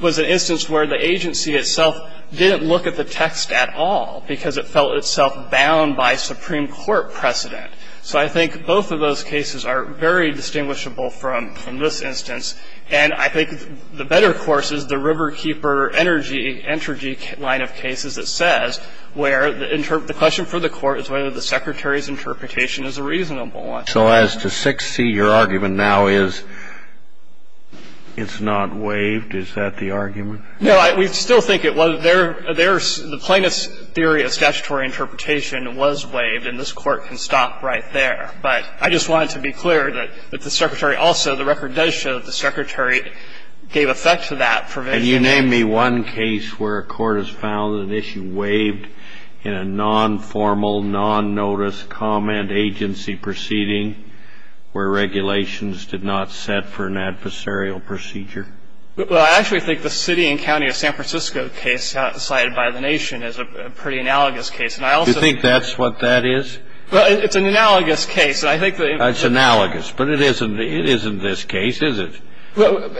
was an instance where the agency itself didn't look at the text at all because it felt itself bound by Supreme Court precedent. So I think both of those cases are very distinguishable from this instance. And I think the better course is the Riverkeeper Energy line of cases that says where the question for the Court is whether the Secretary's interpretation is a reasonable one. So as to 6C, your argument now is it's not waived? Is that the argument? No. We still think it was. Their the plaintiff's theory of statutory interpretation was waived. And this Court can stop right there. But I just wanted to be clear that the Secretary also, the record does show that the Secretary gave effect to that provision. And you name me one case where a Court has found an issue waived in a non-formal, non-notice comment agency proceeding where regulations did not set for an adversarial procedure? Well, I actually think the city and county of San Francisco case cited by the Nation is a pretty analogous case. Do you think that's what that is? Well, it's an analogous case. It's analogous, but it isn't this case, is it? Well,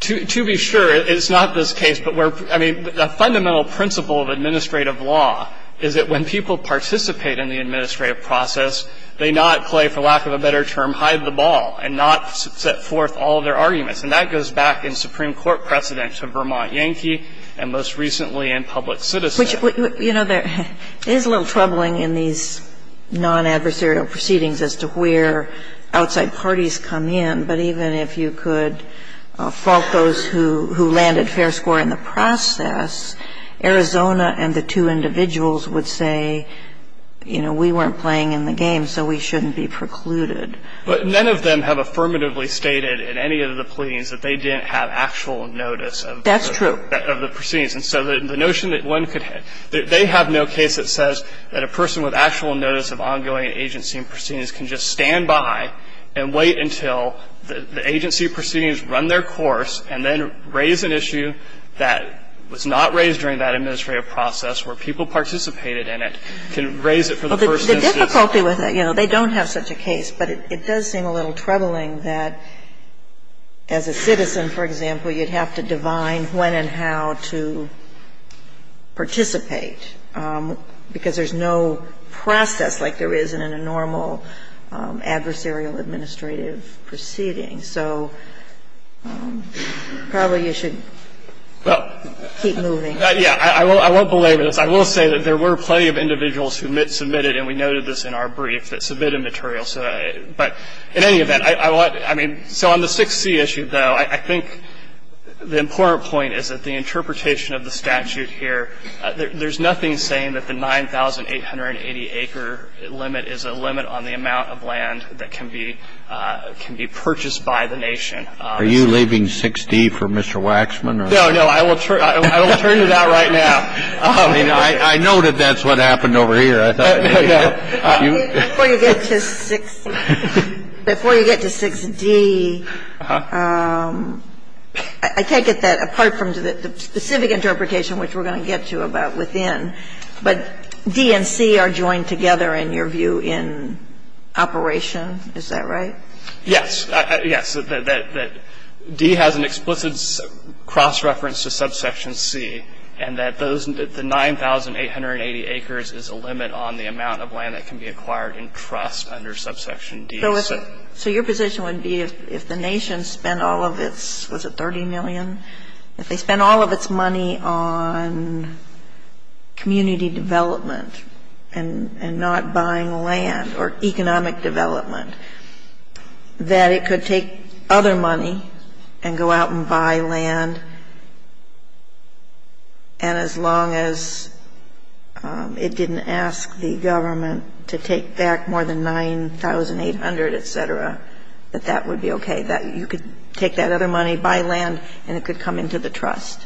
to be sure, it's not this case. But we're – I mean, the fundamental principle of administrative law is that when people participate in the administrative process, they not play, for lack of a better term, hide the ball and not set forth all of their arguments. And that goes back in Supreme Court precedents of Vermont Yankee and most recently in Public Citizen. But I don't think that's the case in this case, which, you know, there is a little troubling in these non-adversarial proceedings as to where outside parties come in. But even if you could fault those who landed fair score in the process, Arizona and the two individuals would say, you know, we weren't playing in the game, so we shouldn't be precluded. But none of them have affirmatively stated in any of the pleadings that they didn't have actual notice of the proceedings. And so the notion that one could – they have no case that says that a person with actual notice of ongoing agency and proceedings can just stand by and wait until the agency proceedings run their course and then raise an issue that was not raised during that administrative process where people participated in it, can raise it for the first instance. Well, the difficulty with it, you know, they don't have such a case, but it does seem a little troubling that as a citizen, for example, you'd have to divine when and how to participate, because there's no process like there is in a normal adversarial administrative proceeding. So probably you should keep moving. Yeah. I won't belabor this. I will say that there were plenty of individuals who submitted, and we noted this in our brief, that submitted materials. But in any event, I want – I mean, so on the 6C issue, though, I think the important point is that the interpretation of the statute here, there's nothing saying that the 9,880-acre limit is a limit on the amount of land that can be – can be purchased by the nation. Are you leaving 6D for Mr. Waxman? No, no, I will turn it out right now. I know that that's what happened over here. Before you get to 6 – before you get to 6D, I take it that, apart from the specific interpretation, which we're going to get to about within, but D and C are joined together, in your view, in operation. Is that right? Yes. Yes. That D has an explicit cross-reference to subsection C, and that those – the 9,880 acres is a limit on the amount of land that can be acquired in trust under subsection D of 6. So your position would be if the nation spent all of its – was it 30 million? If they spent all of its money on community development and not buying land or economic development, that it could take other money and go out and buy land, and as long as it didn't ask the government to take back more than 9,800, et cetera, that that would be okay? That you could take that other money, buy land, and it could come into the trust?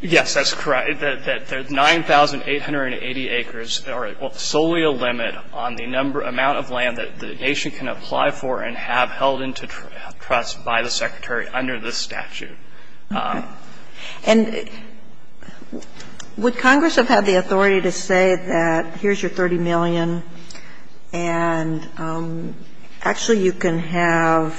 Yes, that's correct. That the 9,880 acres are solely a limit on the number – amount of land that the nation can apply for and have held into trust by the Secretary under this statute. Okay. And would Congress have had the authority to say that here's your 30 million and actually you can have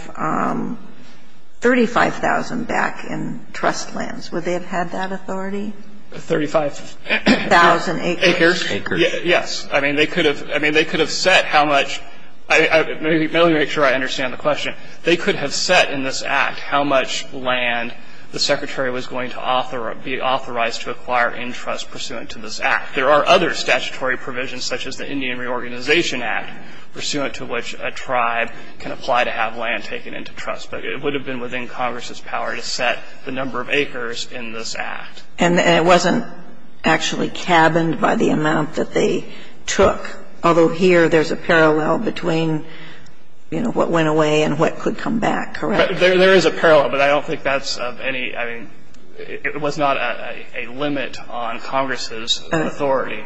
35,000 back in trust lands? Would they have had that authority? 35,000 acres. Acres. Acres. Yes. I mean, they could have – I mean, they could have set how much – let me make sure I understand the question. They could have set in this Act how much land the Secretary was going to author – be authorized to acquire in trust pursuant to this Act. There are other statutory provisions such as the Indian Reorganization Act pursuant to which a tribe can apply to have land taken into trust. But it would have been within Congress's power to set the number of acres in this Act. And it wasn't actually cabined by the amount that they took, although here there's a parallel between, you know, what went away and what could come back, correct? There is a parallel, but I don't think that's of any – I mean, it was not a limit on Congress's authority.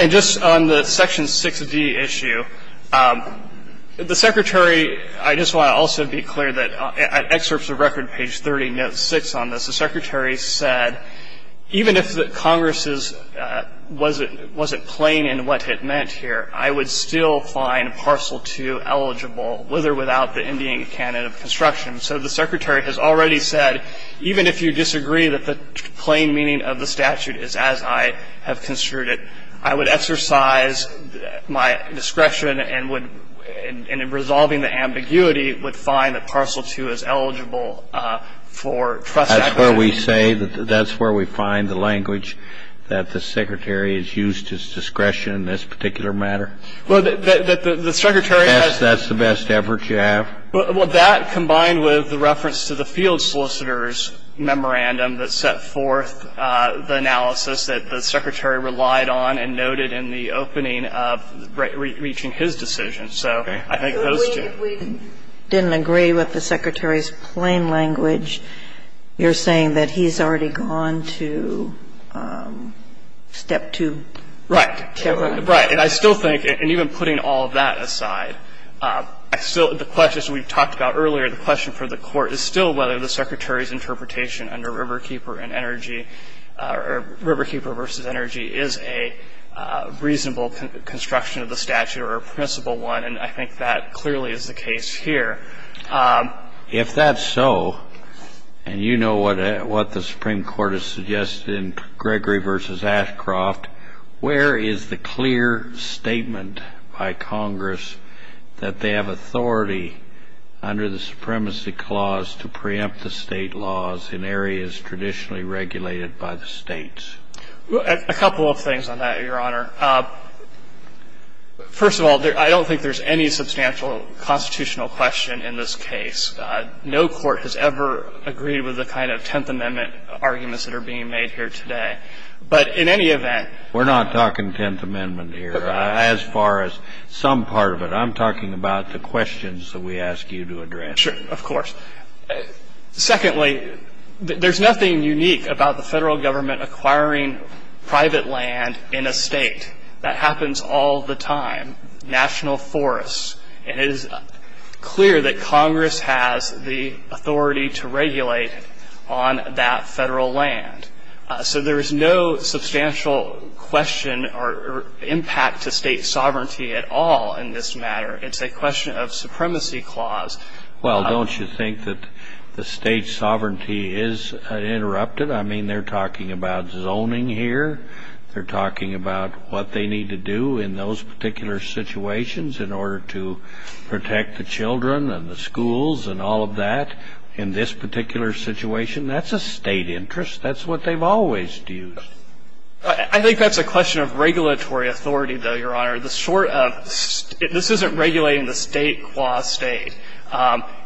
And just on the Section 6d issue, the Secretary – I just want to also be clear that at excerpts of record, page 30, note 6 on this, the Secretary said even if the statute is as I have construed it, I would exercise my discretion and would – and in resolving the ambiguity, would find that Parcel 2 is eligible for trust acquisition. That's where we say – that's where we find the language that the Secretary It's not the case. It's not the case. And the Secretary said that, you know, we would exercise our discretion in this particular matter. Well, the Secretary has – Yes, that's the best effort you have. Well, that combined with the reference to the field solicitor's memorandum that set forth the analysis that the Secretary relied on and noted in the opening of reaching his decision. So I think those two. If we didn't agree with the Secretary's plain language, you're saying that he's already gone to step two. Right. Right. And I still think – and even putting all of that aside, I still – the questions we talked about earlier, the question for the Court is still whether the Secretary's interpretation under Riverkeeper and Energy – or Riverkeeper v. Energy is a reasonable construction of the statute or a permissible one. And I think that clearly is the case here. If that's so, and you know what the Supreme Court has suggested in Gregory v. Ashcroft, where is the clear statement by Congress that they have authority under the Supremacy Clause to preempt the state laws in areas traditionally regulated by the states? A couple of things on that, Your Honor. First of all, I don't think there's any substantial constitutional question in this case. No court has ever agreed with the kind of Tenth Amendment arguments that are being made here today. But in any event – We're not talking Tenth Amendment here. As far as some part of it, I'm talking about the questions that we ask you to address. Sure. Of course. Secondly, there's nothing unique about the Federal Government acquiring private land in a state. That happens all the time. National forests. And it is clear that Congress has the authority to regulate on that Federal land. So there is no substantial question or impact to state sovereignty at all in this matter. It's a question of Supremacy Clause. Well, don't you think that the state sovereignty is interrupted? I mean, they're talking about zoning here. They're talking about what they need to do in those particular situations in order to protect the children and the schools and all of that. In this particular situation, that's a state interest. That's what they've always used. I think that's a question of regulatory authority, though, Your Honor. This isn't regulating the state qua state.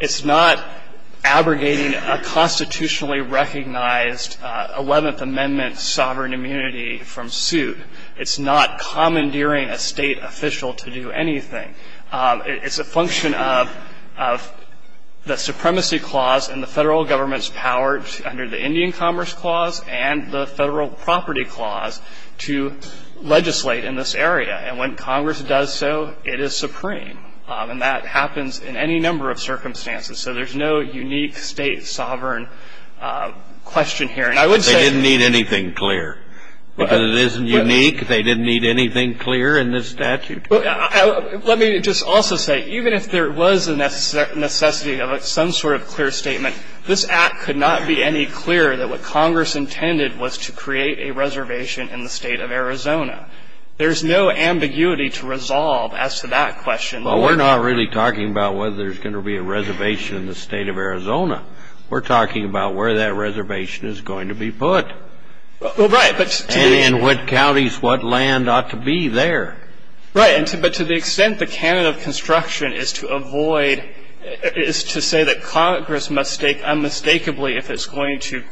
It's not abrogating a constitutionally recognized Eleventh Amendment sovereign immunity from suit. It's not commandeering a state official to do anything. It's a function of the Supremacy Clause and the Federal Government's power under the Indian Commerce Clause and the Federal Property Clause to legislate in this area. And when Congress does so, it is supreme. And that happens in any number of circumstances. So there's no unique state sovereign question here. And I would say they didn't need anything clear because it isn't unique. They didn't need anything clear in this statute. Let me just also say, even if there was a necessity of some sort of clear statement, this Act could not be any clearer that what Congress intended was to create a reservation in the State of Arizona. There's no ambiguity to resolve as to that question. Well, we're not really talking about whether there's going to be a reservation in the State of Arizona. We're talking about where that reservation is going to be put. Well, right. And in what counties, what land ought to be there. Right. But to the extent the canon of construction is to avoid, is to say that Congress must stake unmistakably if it's going to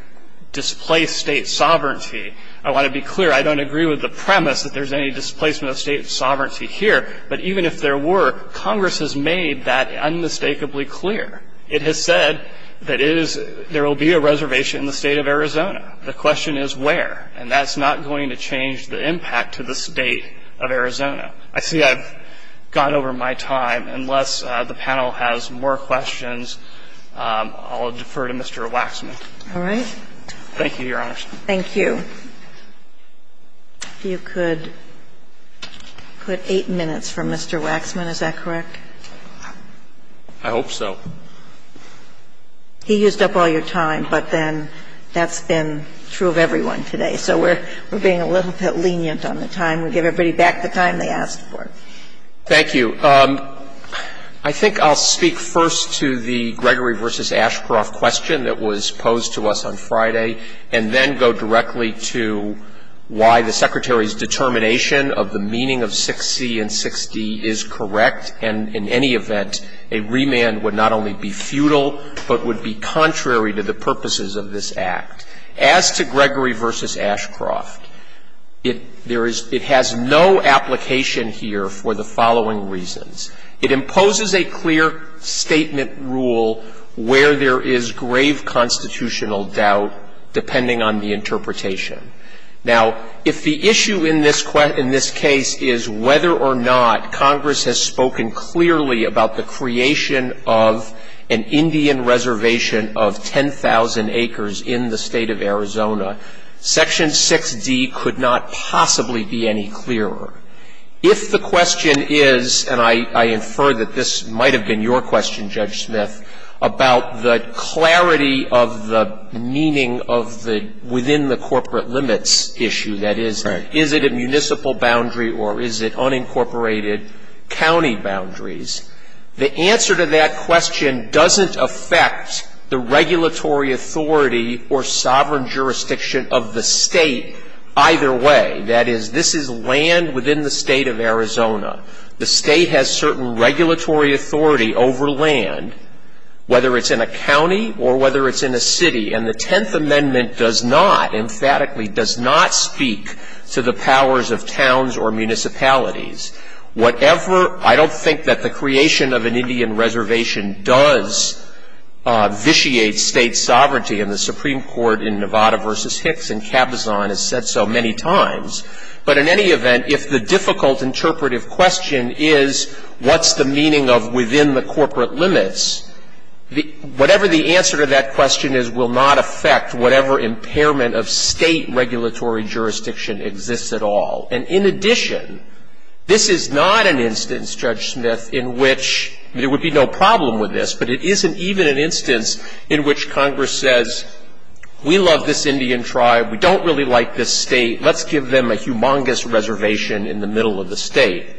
displace state sovereignty. I want to be clear. I don't agree with the premise that there's any displacement of state sovereignty here, but even if there were, Congress has made that unmistakably clear. It has said that it is, there will be a reservation in the State of Arizona. The question is where. And that's not going to change the impact to the State of Arizona. I see I've gone over my time. Unless the panel has more questions, I'll defer to Mr. Waxman. All right. Thank you, Your Honors. Thank you. If you could put 8 minutes for Mr. Waxman, is that correct? I hope so. He used up all your time, but then that's been true of everyone today. So we're being a little bit lenient on the time. We give everybody back the time they asked for. Thank you. I think I'll speak first to the Gregory v. Ashcroft question that was posed to us on Monday, and then go directly to why the Secretary's determination of the meaning of 6C and 6D is correct, and in any event, a remand would not only be futile, but would be contrary to the purposes of this Act. As to Gregory v. Ashcroft, it has no application here for the following reasons. It imposes a clear statement rule where there is grave constitutional doubt, depending on the interpretation. Now, if the issue in this case is whether or not Congress has spoken clearly about the creation of an Indian reservation of 10,000 acres in the State of Arizona, Section 6D could not possibly be any clearer. If the question is, and I infer that this might have been your question, Judge Smith, about the clarity of the meaning of the within the corporate limits issue, that is, is it a municipal boundary or is it unincorporated county boundaries, the answer to that question doesn't affect the regulatory authority or sovereign jurisdiction of the State either way. That is, this is land within the State of Arizona. The State has certain regulatory authority over land, whether it's in a county or whether it's in a city, and the Tenth Amendment does not, emphatically, does not speak to the powers of towns or municipalities. Whatever, I don't think that the creation of an Indian reservation does vitiate state sovereignty, and the Supreme Court in Nevada v. Hicks and Cabazon has said so many times. But in any event, if the difficult interpretive question is what's the meaning of within the corporate limits, whatever the answer to that question is will not affect whatever impairment of State regulatory jurisdiction exists at all. And in addition, this is not an instance, Judge Smith, in which there would be no problem with this, but it isn't even an instance in which Congress says, we love this Indian tribe, we don't really like this State, let's give them a humongous reservation in the middle of the State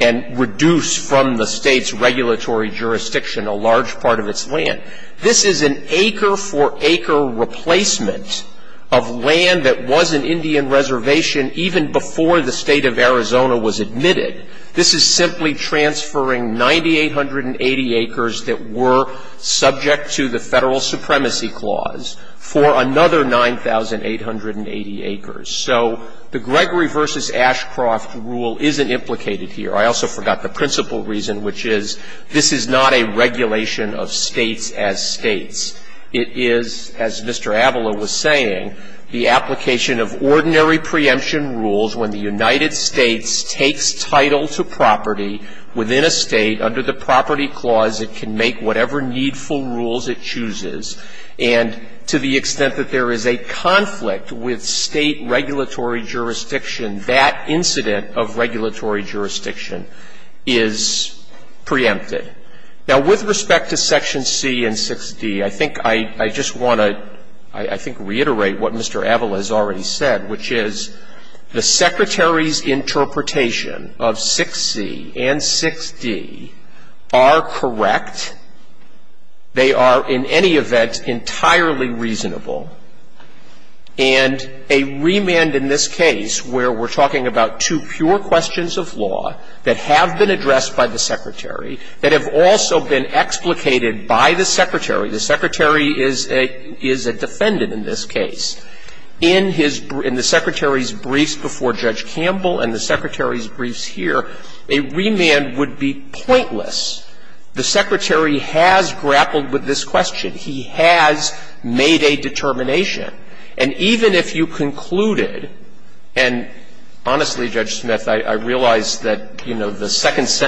and reduce from the State's regulatory jurisdiction a large part of its land. This is an acre for acre replacement of land that was an Indian reservation even before the State of Arizona was admitted. This is simply transferring 9,880 acres that were subject to the Federal Supremacy Clause for another 9,880 acres. So the Gregory v. Ashcroft rule isn't implicated here. I also forgot the principal reason, which is this is not a regulation of States as States. It is, as Mr. Avila was saying, the application of ordinary preemption rules when the United States takes title to property within a State under the property clause, it can make whatever needful rules it chooses, and to the extent that there is a conflict with State regulatory jurisdiction, that incident of regulatory jurisdiction is preempted. Now, with respect to Section C and 6d, I think I just want to, I think, reiterate what Mr. Avila has already said, which is the Secretary's interpretation of 6c and 6d are correct. They are, in any event, entirely reasonable. And a remand in this case where we're talking about two pure questions of law that have been addressed by the Secretary, that have also been explicated by the Secretary is a defendant in this case. In the Secretary's briefs before Judge Campbell and the Secretary's briefs here, a remand would be pointless. The Secretary has grappled with this question. He has made a determination. And even if you concluded, and honestly, Judge Smith, I realize that, you know, the sentence,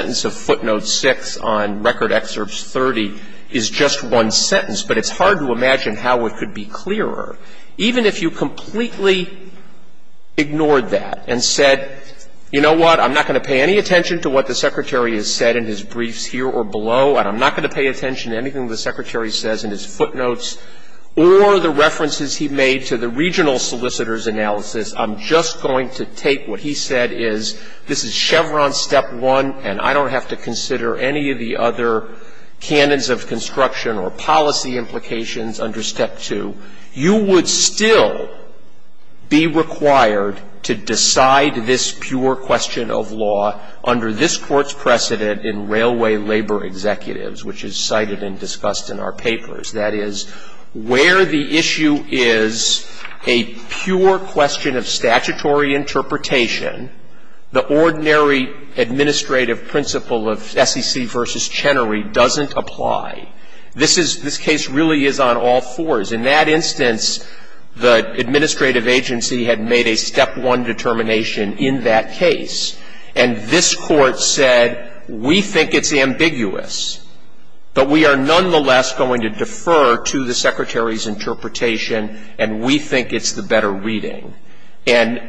but it's hard to imagine how it could be clearer. Even if you completely ignored that and said, you know what, I'm not going to pay any attention to what the Secretary has said in his briefs here or below, and I'm not going to pay attention to anything the Secretary says in his footnotes or the references he made to the regional solicitor's analysis. I'm just going to take what he said is, this is Chevron step one, and I don't have to consider any of the other canons of construction or policy implications under step two. You would still be required to decide this pure question of law under this Court's precedent in Railway Labor Executives, which is cited and discussed in our papers. That is, where the issue is a pure question of statutory interpretation, the ordinary administrative principle of SEC v. Chenery doesn't apply. This is, this case really is on all fours. In that instance, the administrative agency had made a step one determination in that case, and this Court said, we think it's ambiguous, but we are nonetheless going to defer to the Secretary's interpretation, and we think it's the better reading. And,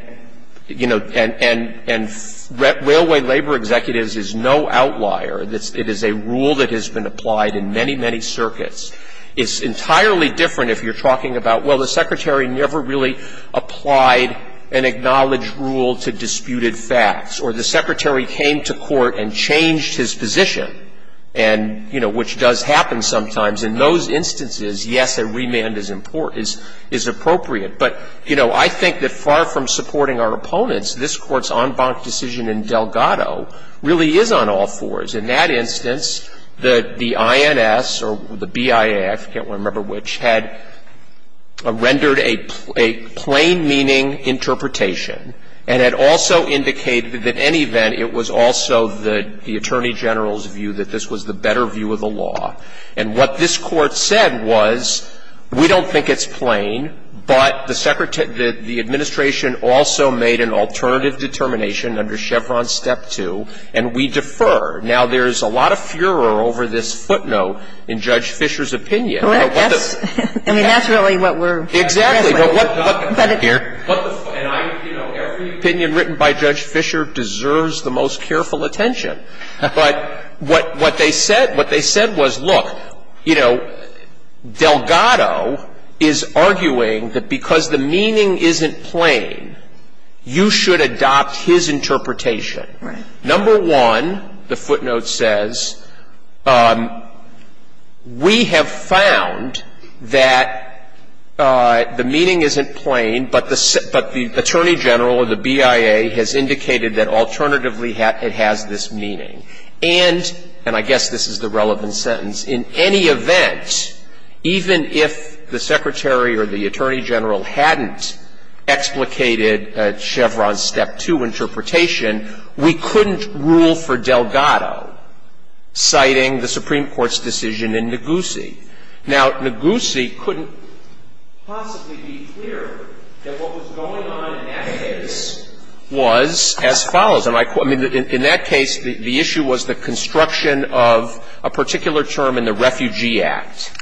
you know, and Railway Labor Executives is no outlier. It is a rule that has been applied in many, many circuits. It's entirely different if you're talking about, well, the Secretary never really applied an acknowledged rule to disputed facts, or the Secretary came to court and changed his position, and, you know, which does happen sometimes. In those instances, yes, a remand is important, is appropriate. But, you know, I think that far from supporting our opponents, this Court's en banc decision in Delgado really is on all fours. In that instance, the INS or the BIA, I can't remember which, had rendered a plain meaning interpretation and had also indicated that in any event it was also the Attorney General's view that this was the better view of the law. And what this Court said was, we don't think it's plain, but the Administration also made an alternative determination under Chevron Step 2, and we defer. Now, there's a lot of furor over this footnote in Judge Fischer's opinion. But what the ---- Right. Yes. I mean, that's really what we're addressing. Exactly. But what the ---- But it ---- And I, you know, every opinion written by Judge Fischer deserves the most careful attention. But what they said, what they said was, look, you know, Delgado is arguing that because the meaning isn't plain, you should adopt his interpretation. Right. Number one, the footnote says, we have found that the meaning isn't plain, but the Attorney General or the BIA has indicated that alternatively it has this meaning. And, and I guess this is the relevant sentence, in any event, even if the Secretary or the Attorney General hadn't explicated Chevron's Step 2 interpretation, we couldn't rule for Delgado citing the Supreme Court's decision in Negussi. Now, Negussi couldn't possibly be clearer that what was going on in that case was as follows. And I quote, I mean, in that case, the issue was the construction of a particular term in the Refugee Act.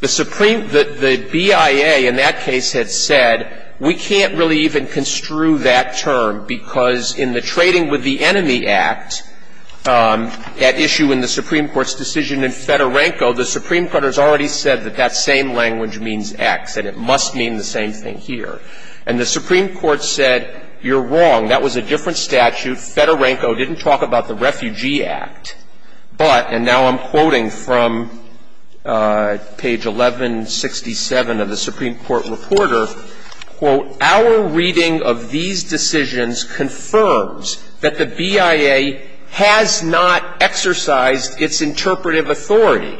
The Supreme ---- the BIA in that case had said, we can't really even construe that term, because in the Trading with the Enemy Act, that issue in the Supreme Court's decision in Fedorenko, the Supreme Court has already said that that same language means X and it must mean the same thing here. And the Supreme Court said, you're wrong. That was a different statute. Fedorenko didn't talk about the Refugee Act. But, and now I'm quoting from page 1167 of the Supreme Court Reporter, quote, our reading of these decisions confirms that the BIA has not exercised its interpretive authority,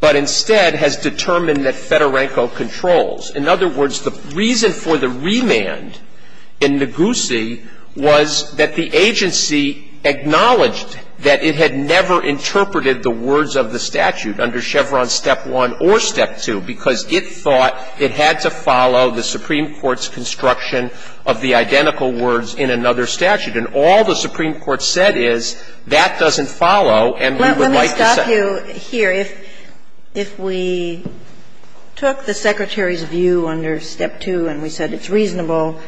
but instead has determined that Fedorenko controls. In other words, the reason for the remand in Negussi was that the agency acknowledged that it had never interpreted the words of the statute under Chevron Step 1 or Step 2, because it thought it had to follow the Supreme Court's construction of the identical words in another statute. And all the Supreme Court said is that doesn't follow, and we would like to say ---- If we were to argue under Step 2 and we said it's reasonable,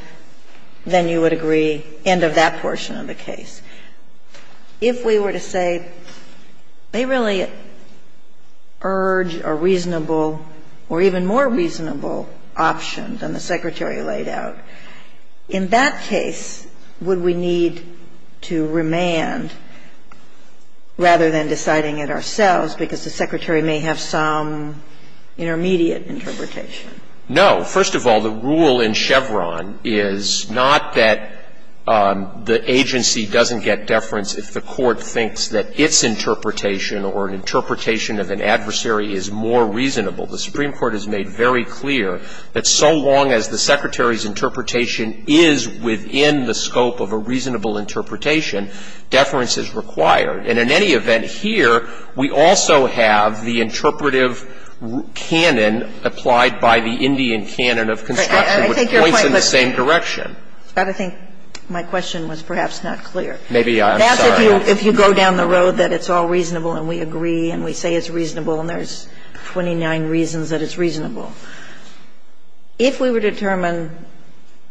then you would agree end of that portion of the case. If we were to say they really urge a reasonable or even more reasonable option than the Secretary laid out, in that case, would we need to remand rather than deciding it ourselves because the Secretary may have some intermediate interpretation? No. First of all, the rule in Chevron is not that the agency doesn't get deference if the Court thinks that its interpretation or an interpretation of an adversary is more reasonable. The Supreme Court has made very clear that so long as the Secretary's interpretation is within the scope of a reasonable interpretation, deference is required. And in any event here, we also have the interpretive canon applied by the Indian canon of construction, which points in the same direction. But I think my question was perhaps not clear. Maybe I'm sorry. That's if you go down the road that it's all reasonable and we agree and we say it's reasonable and there's 29 reasons that it's reasonable. If we were to determine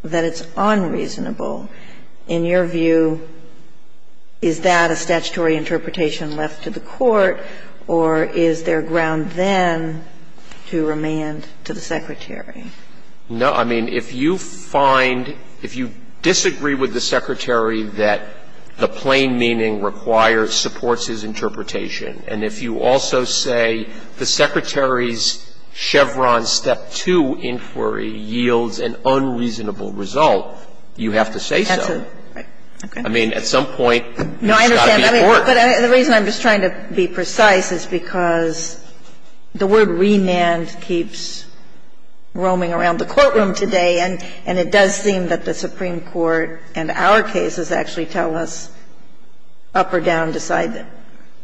that it's unreasonable, in your view, is that a statutory interpretation left to the Court or is there ground then to remand to the Secretary? No. I mean, if you find, if you disagree with the Secretary that the plain meaning requires, supports his interpretation, and if you also say the Secretary's Chevron Step 2 inquiry yields an unreasonable result, you have to say so. I mean, at some point, it's got to be the Court. No, I understand. But the reason I'm just trying to be precise is because the word remand keeps roaming around the courtroom today. And it does seem that the Supreme Court and our cases actually tell us up or down to decide that.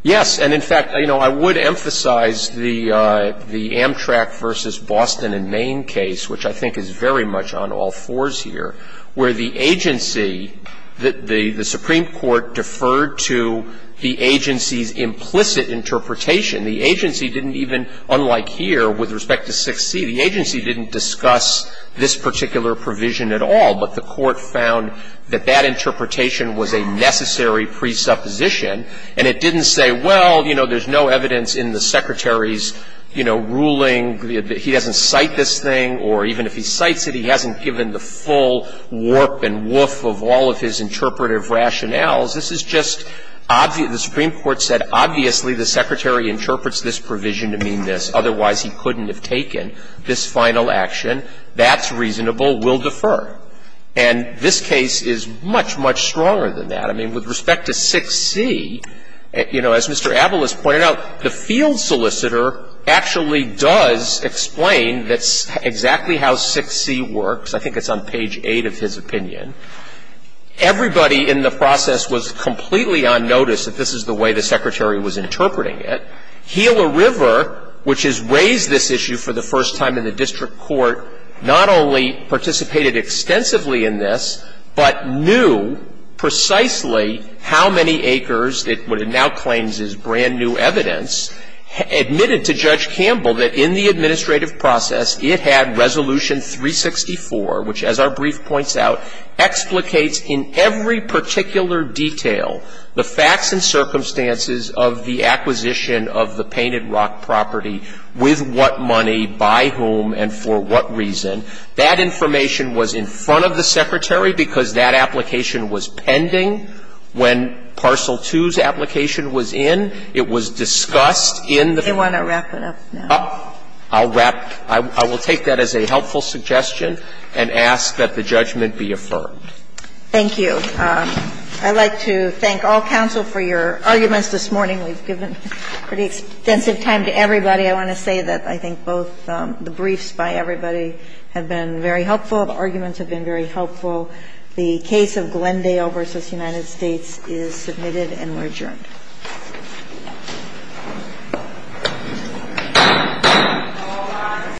Yes. And in fact, you know, I would emphasize the Amtrak v. Boston and Main case, which I think is very much on all fours here, where the agency, the Supreme Court deferred to the agency's implicit interpretation. The agency didn't even, unlike here, with respect to 6C, the agency didn't discuss this particular provision at all, but the Court found that that interpretation was a necessary presupposition. And it didn't say, well, you know, there's no evidence in the Secretary's, you know, ruling that he doesn't cite this thing, or even if he cites it, he hasn't given the full warp and woof of all of his interpretive rationales. This is just obvious. The Supreme Court said, obviously, the Secretary interprets this provision to mean this. Otherwise, he couldn't have taken this final action. That's reasonable. We'll defer. And this case is much, much stronger than that. I mean, with respect to 6C, you know, as Mr. Avalos pointed out, the field solicitor actually does explain that's exactly how 6C works. I think it's on page 8 of his opinion. Everybody in the process was completely on notice that this is the way the Secretary was interpreting it. Gila River, which has raised this issue for the first time in the district court, not only participated extensively in this, but knew precisely how many acres that what it now claims is brand-new evidence, admitted to Judge Campbell that in the administrative process, it had Resolution 364, which, as our brief points out, explicates in every particular detail the facts and circumstances of the acquisition of the Painted Rock property, with what money, by whom, and for what reason. That information was in front of the Secretary because that application was pending when Parcel 2's application was in. It was discussed in the case. Sotomayor I want to wrap it up now. Waxman I'll wrap. I will take that as a helpful suggestion and ask that the judgment be affirmed. Sotomayor Thank you. I'd like to thank all counsel for your arguments this morning. We've given pretty extensive time to everybody. I want to say that I think both the briefs by everybody have been very helpful. The arguments have been very helpful. The case of Glendale v. United States is submitted and we're adjourned.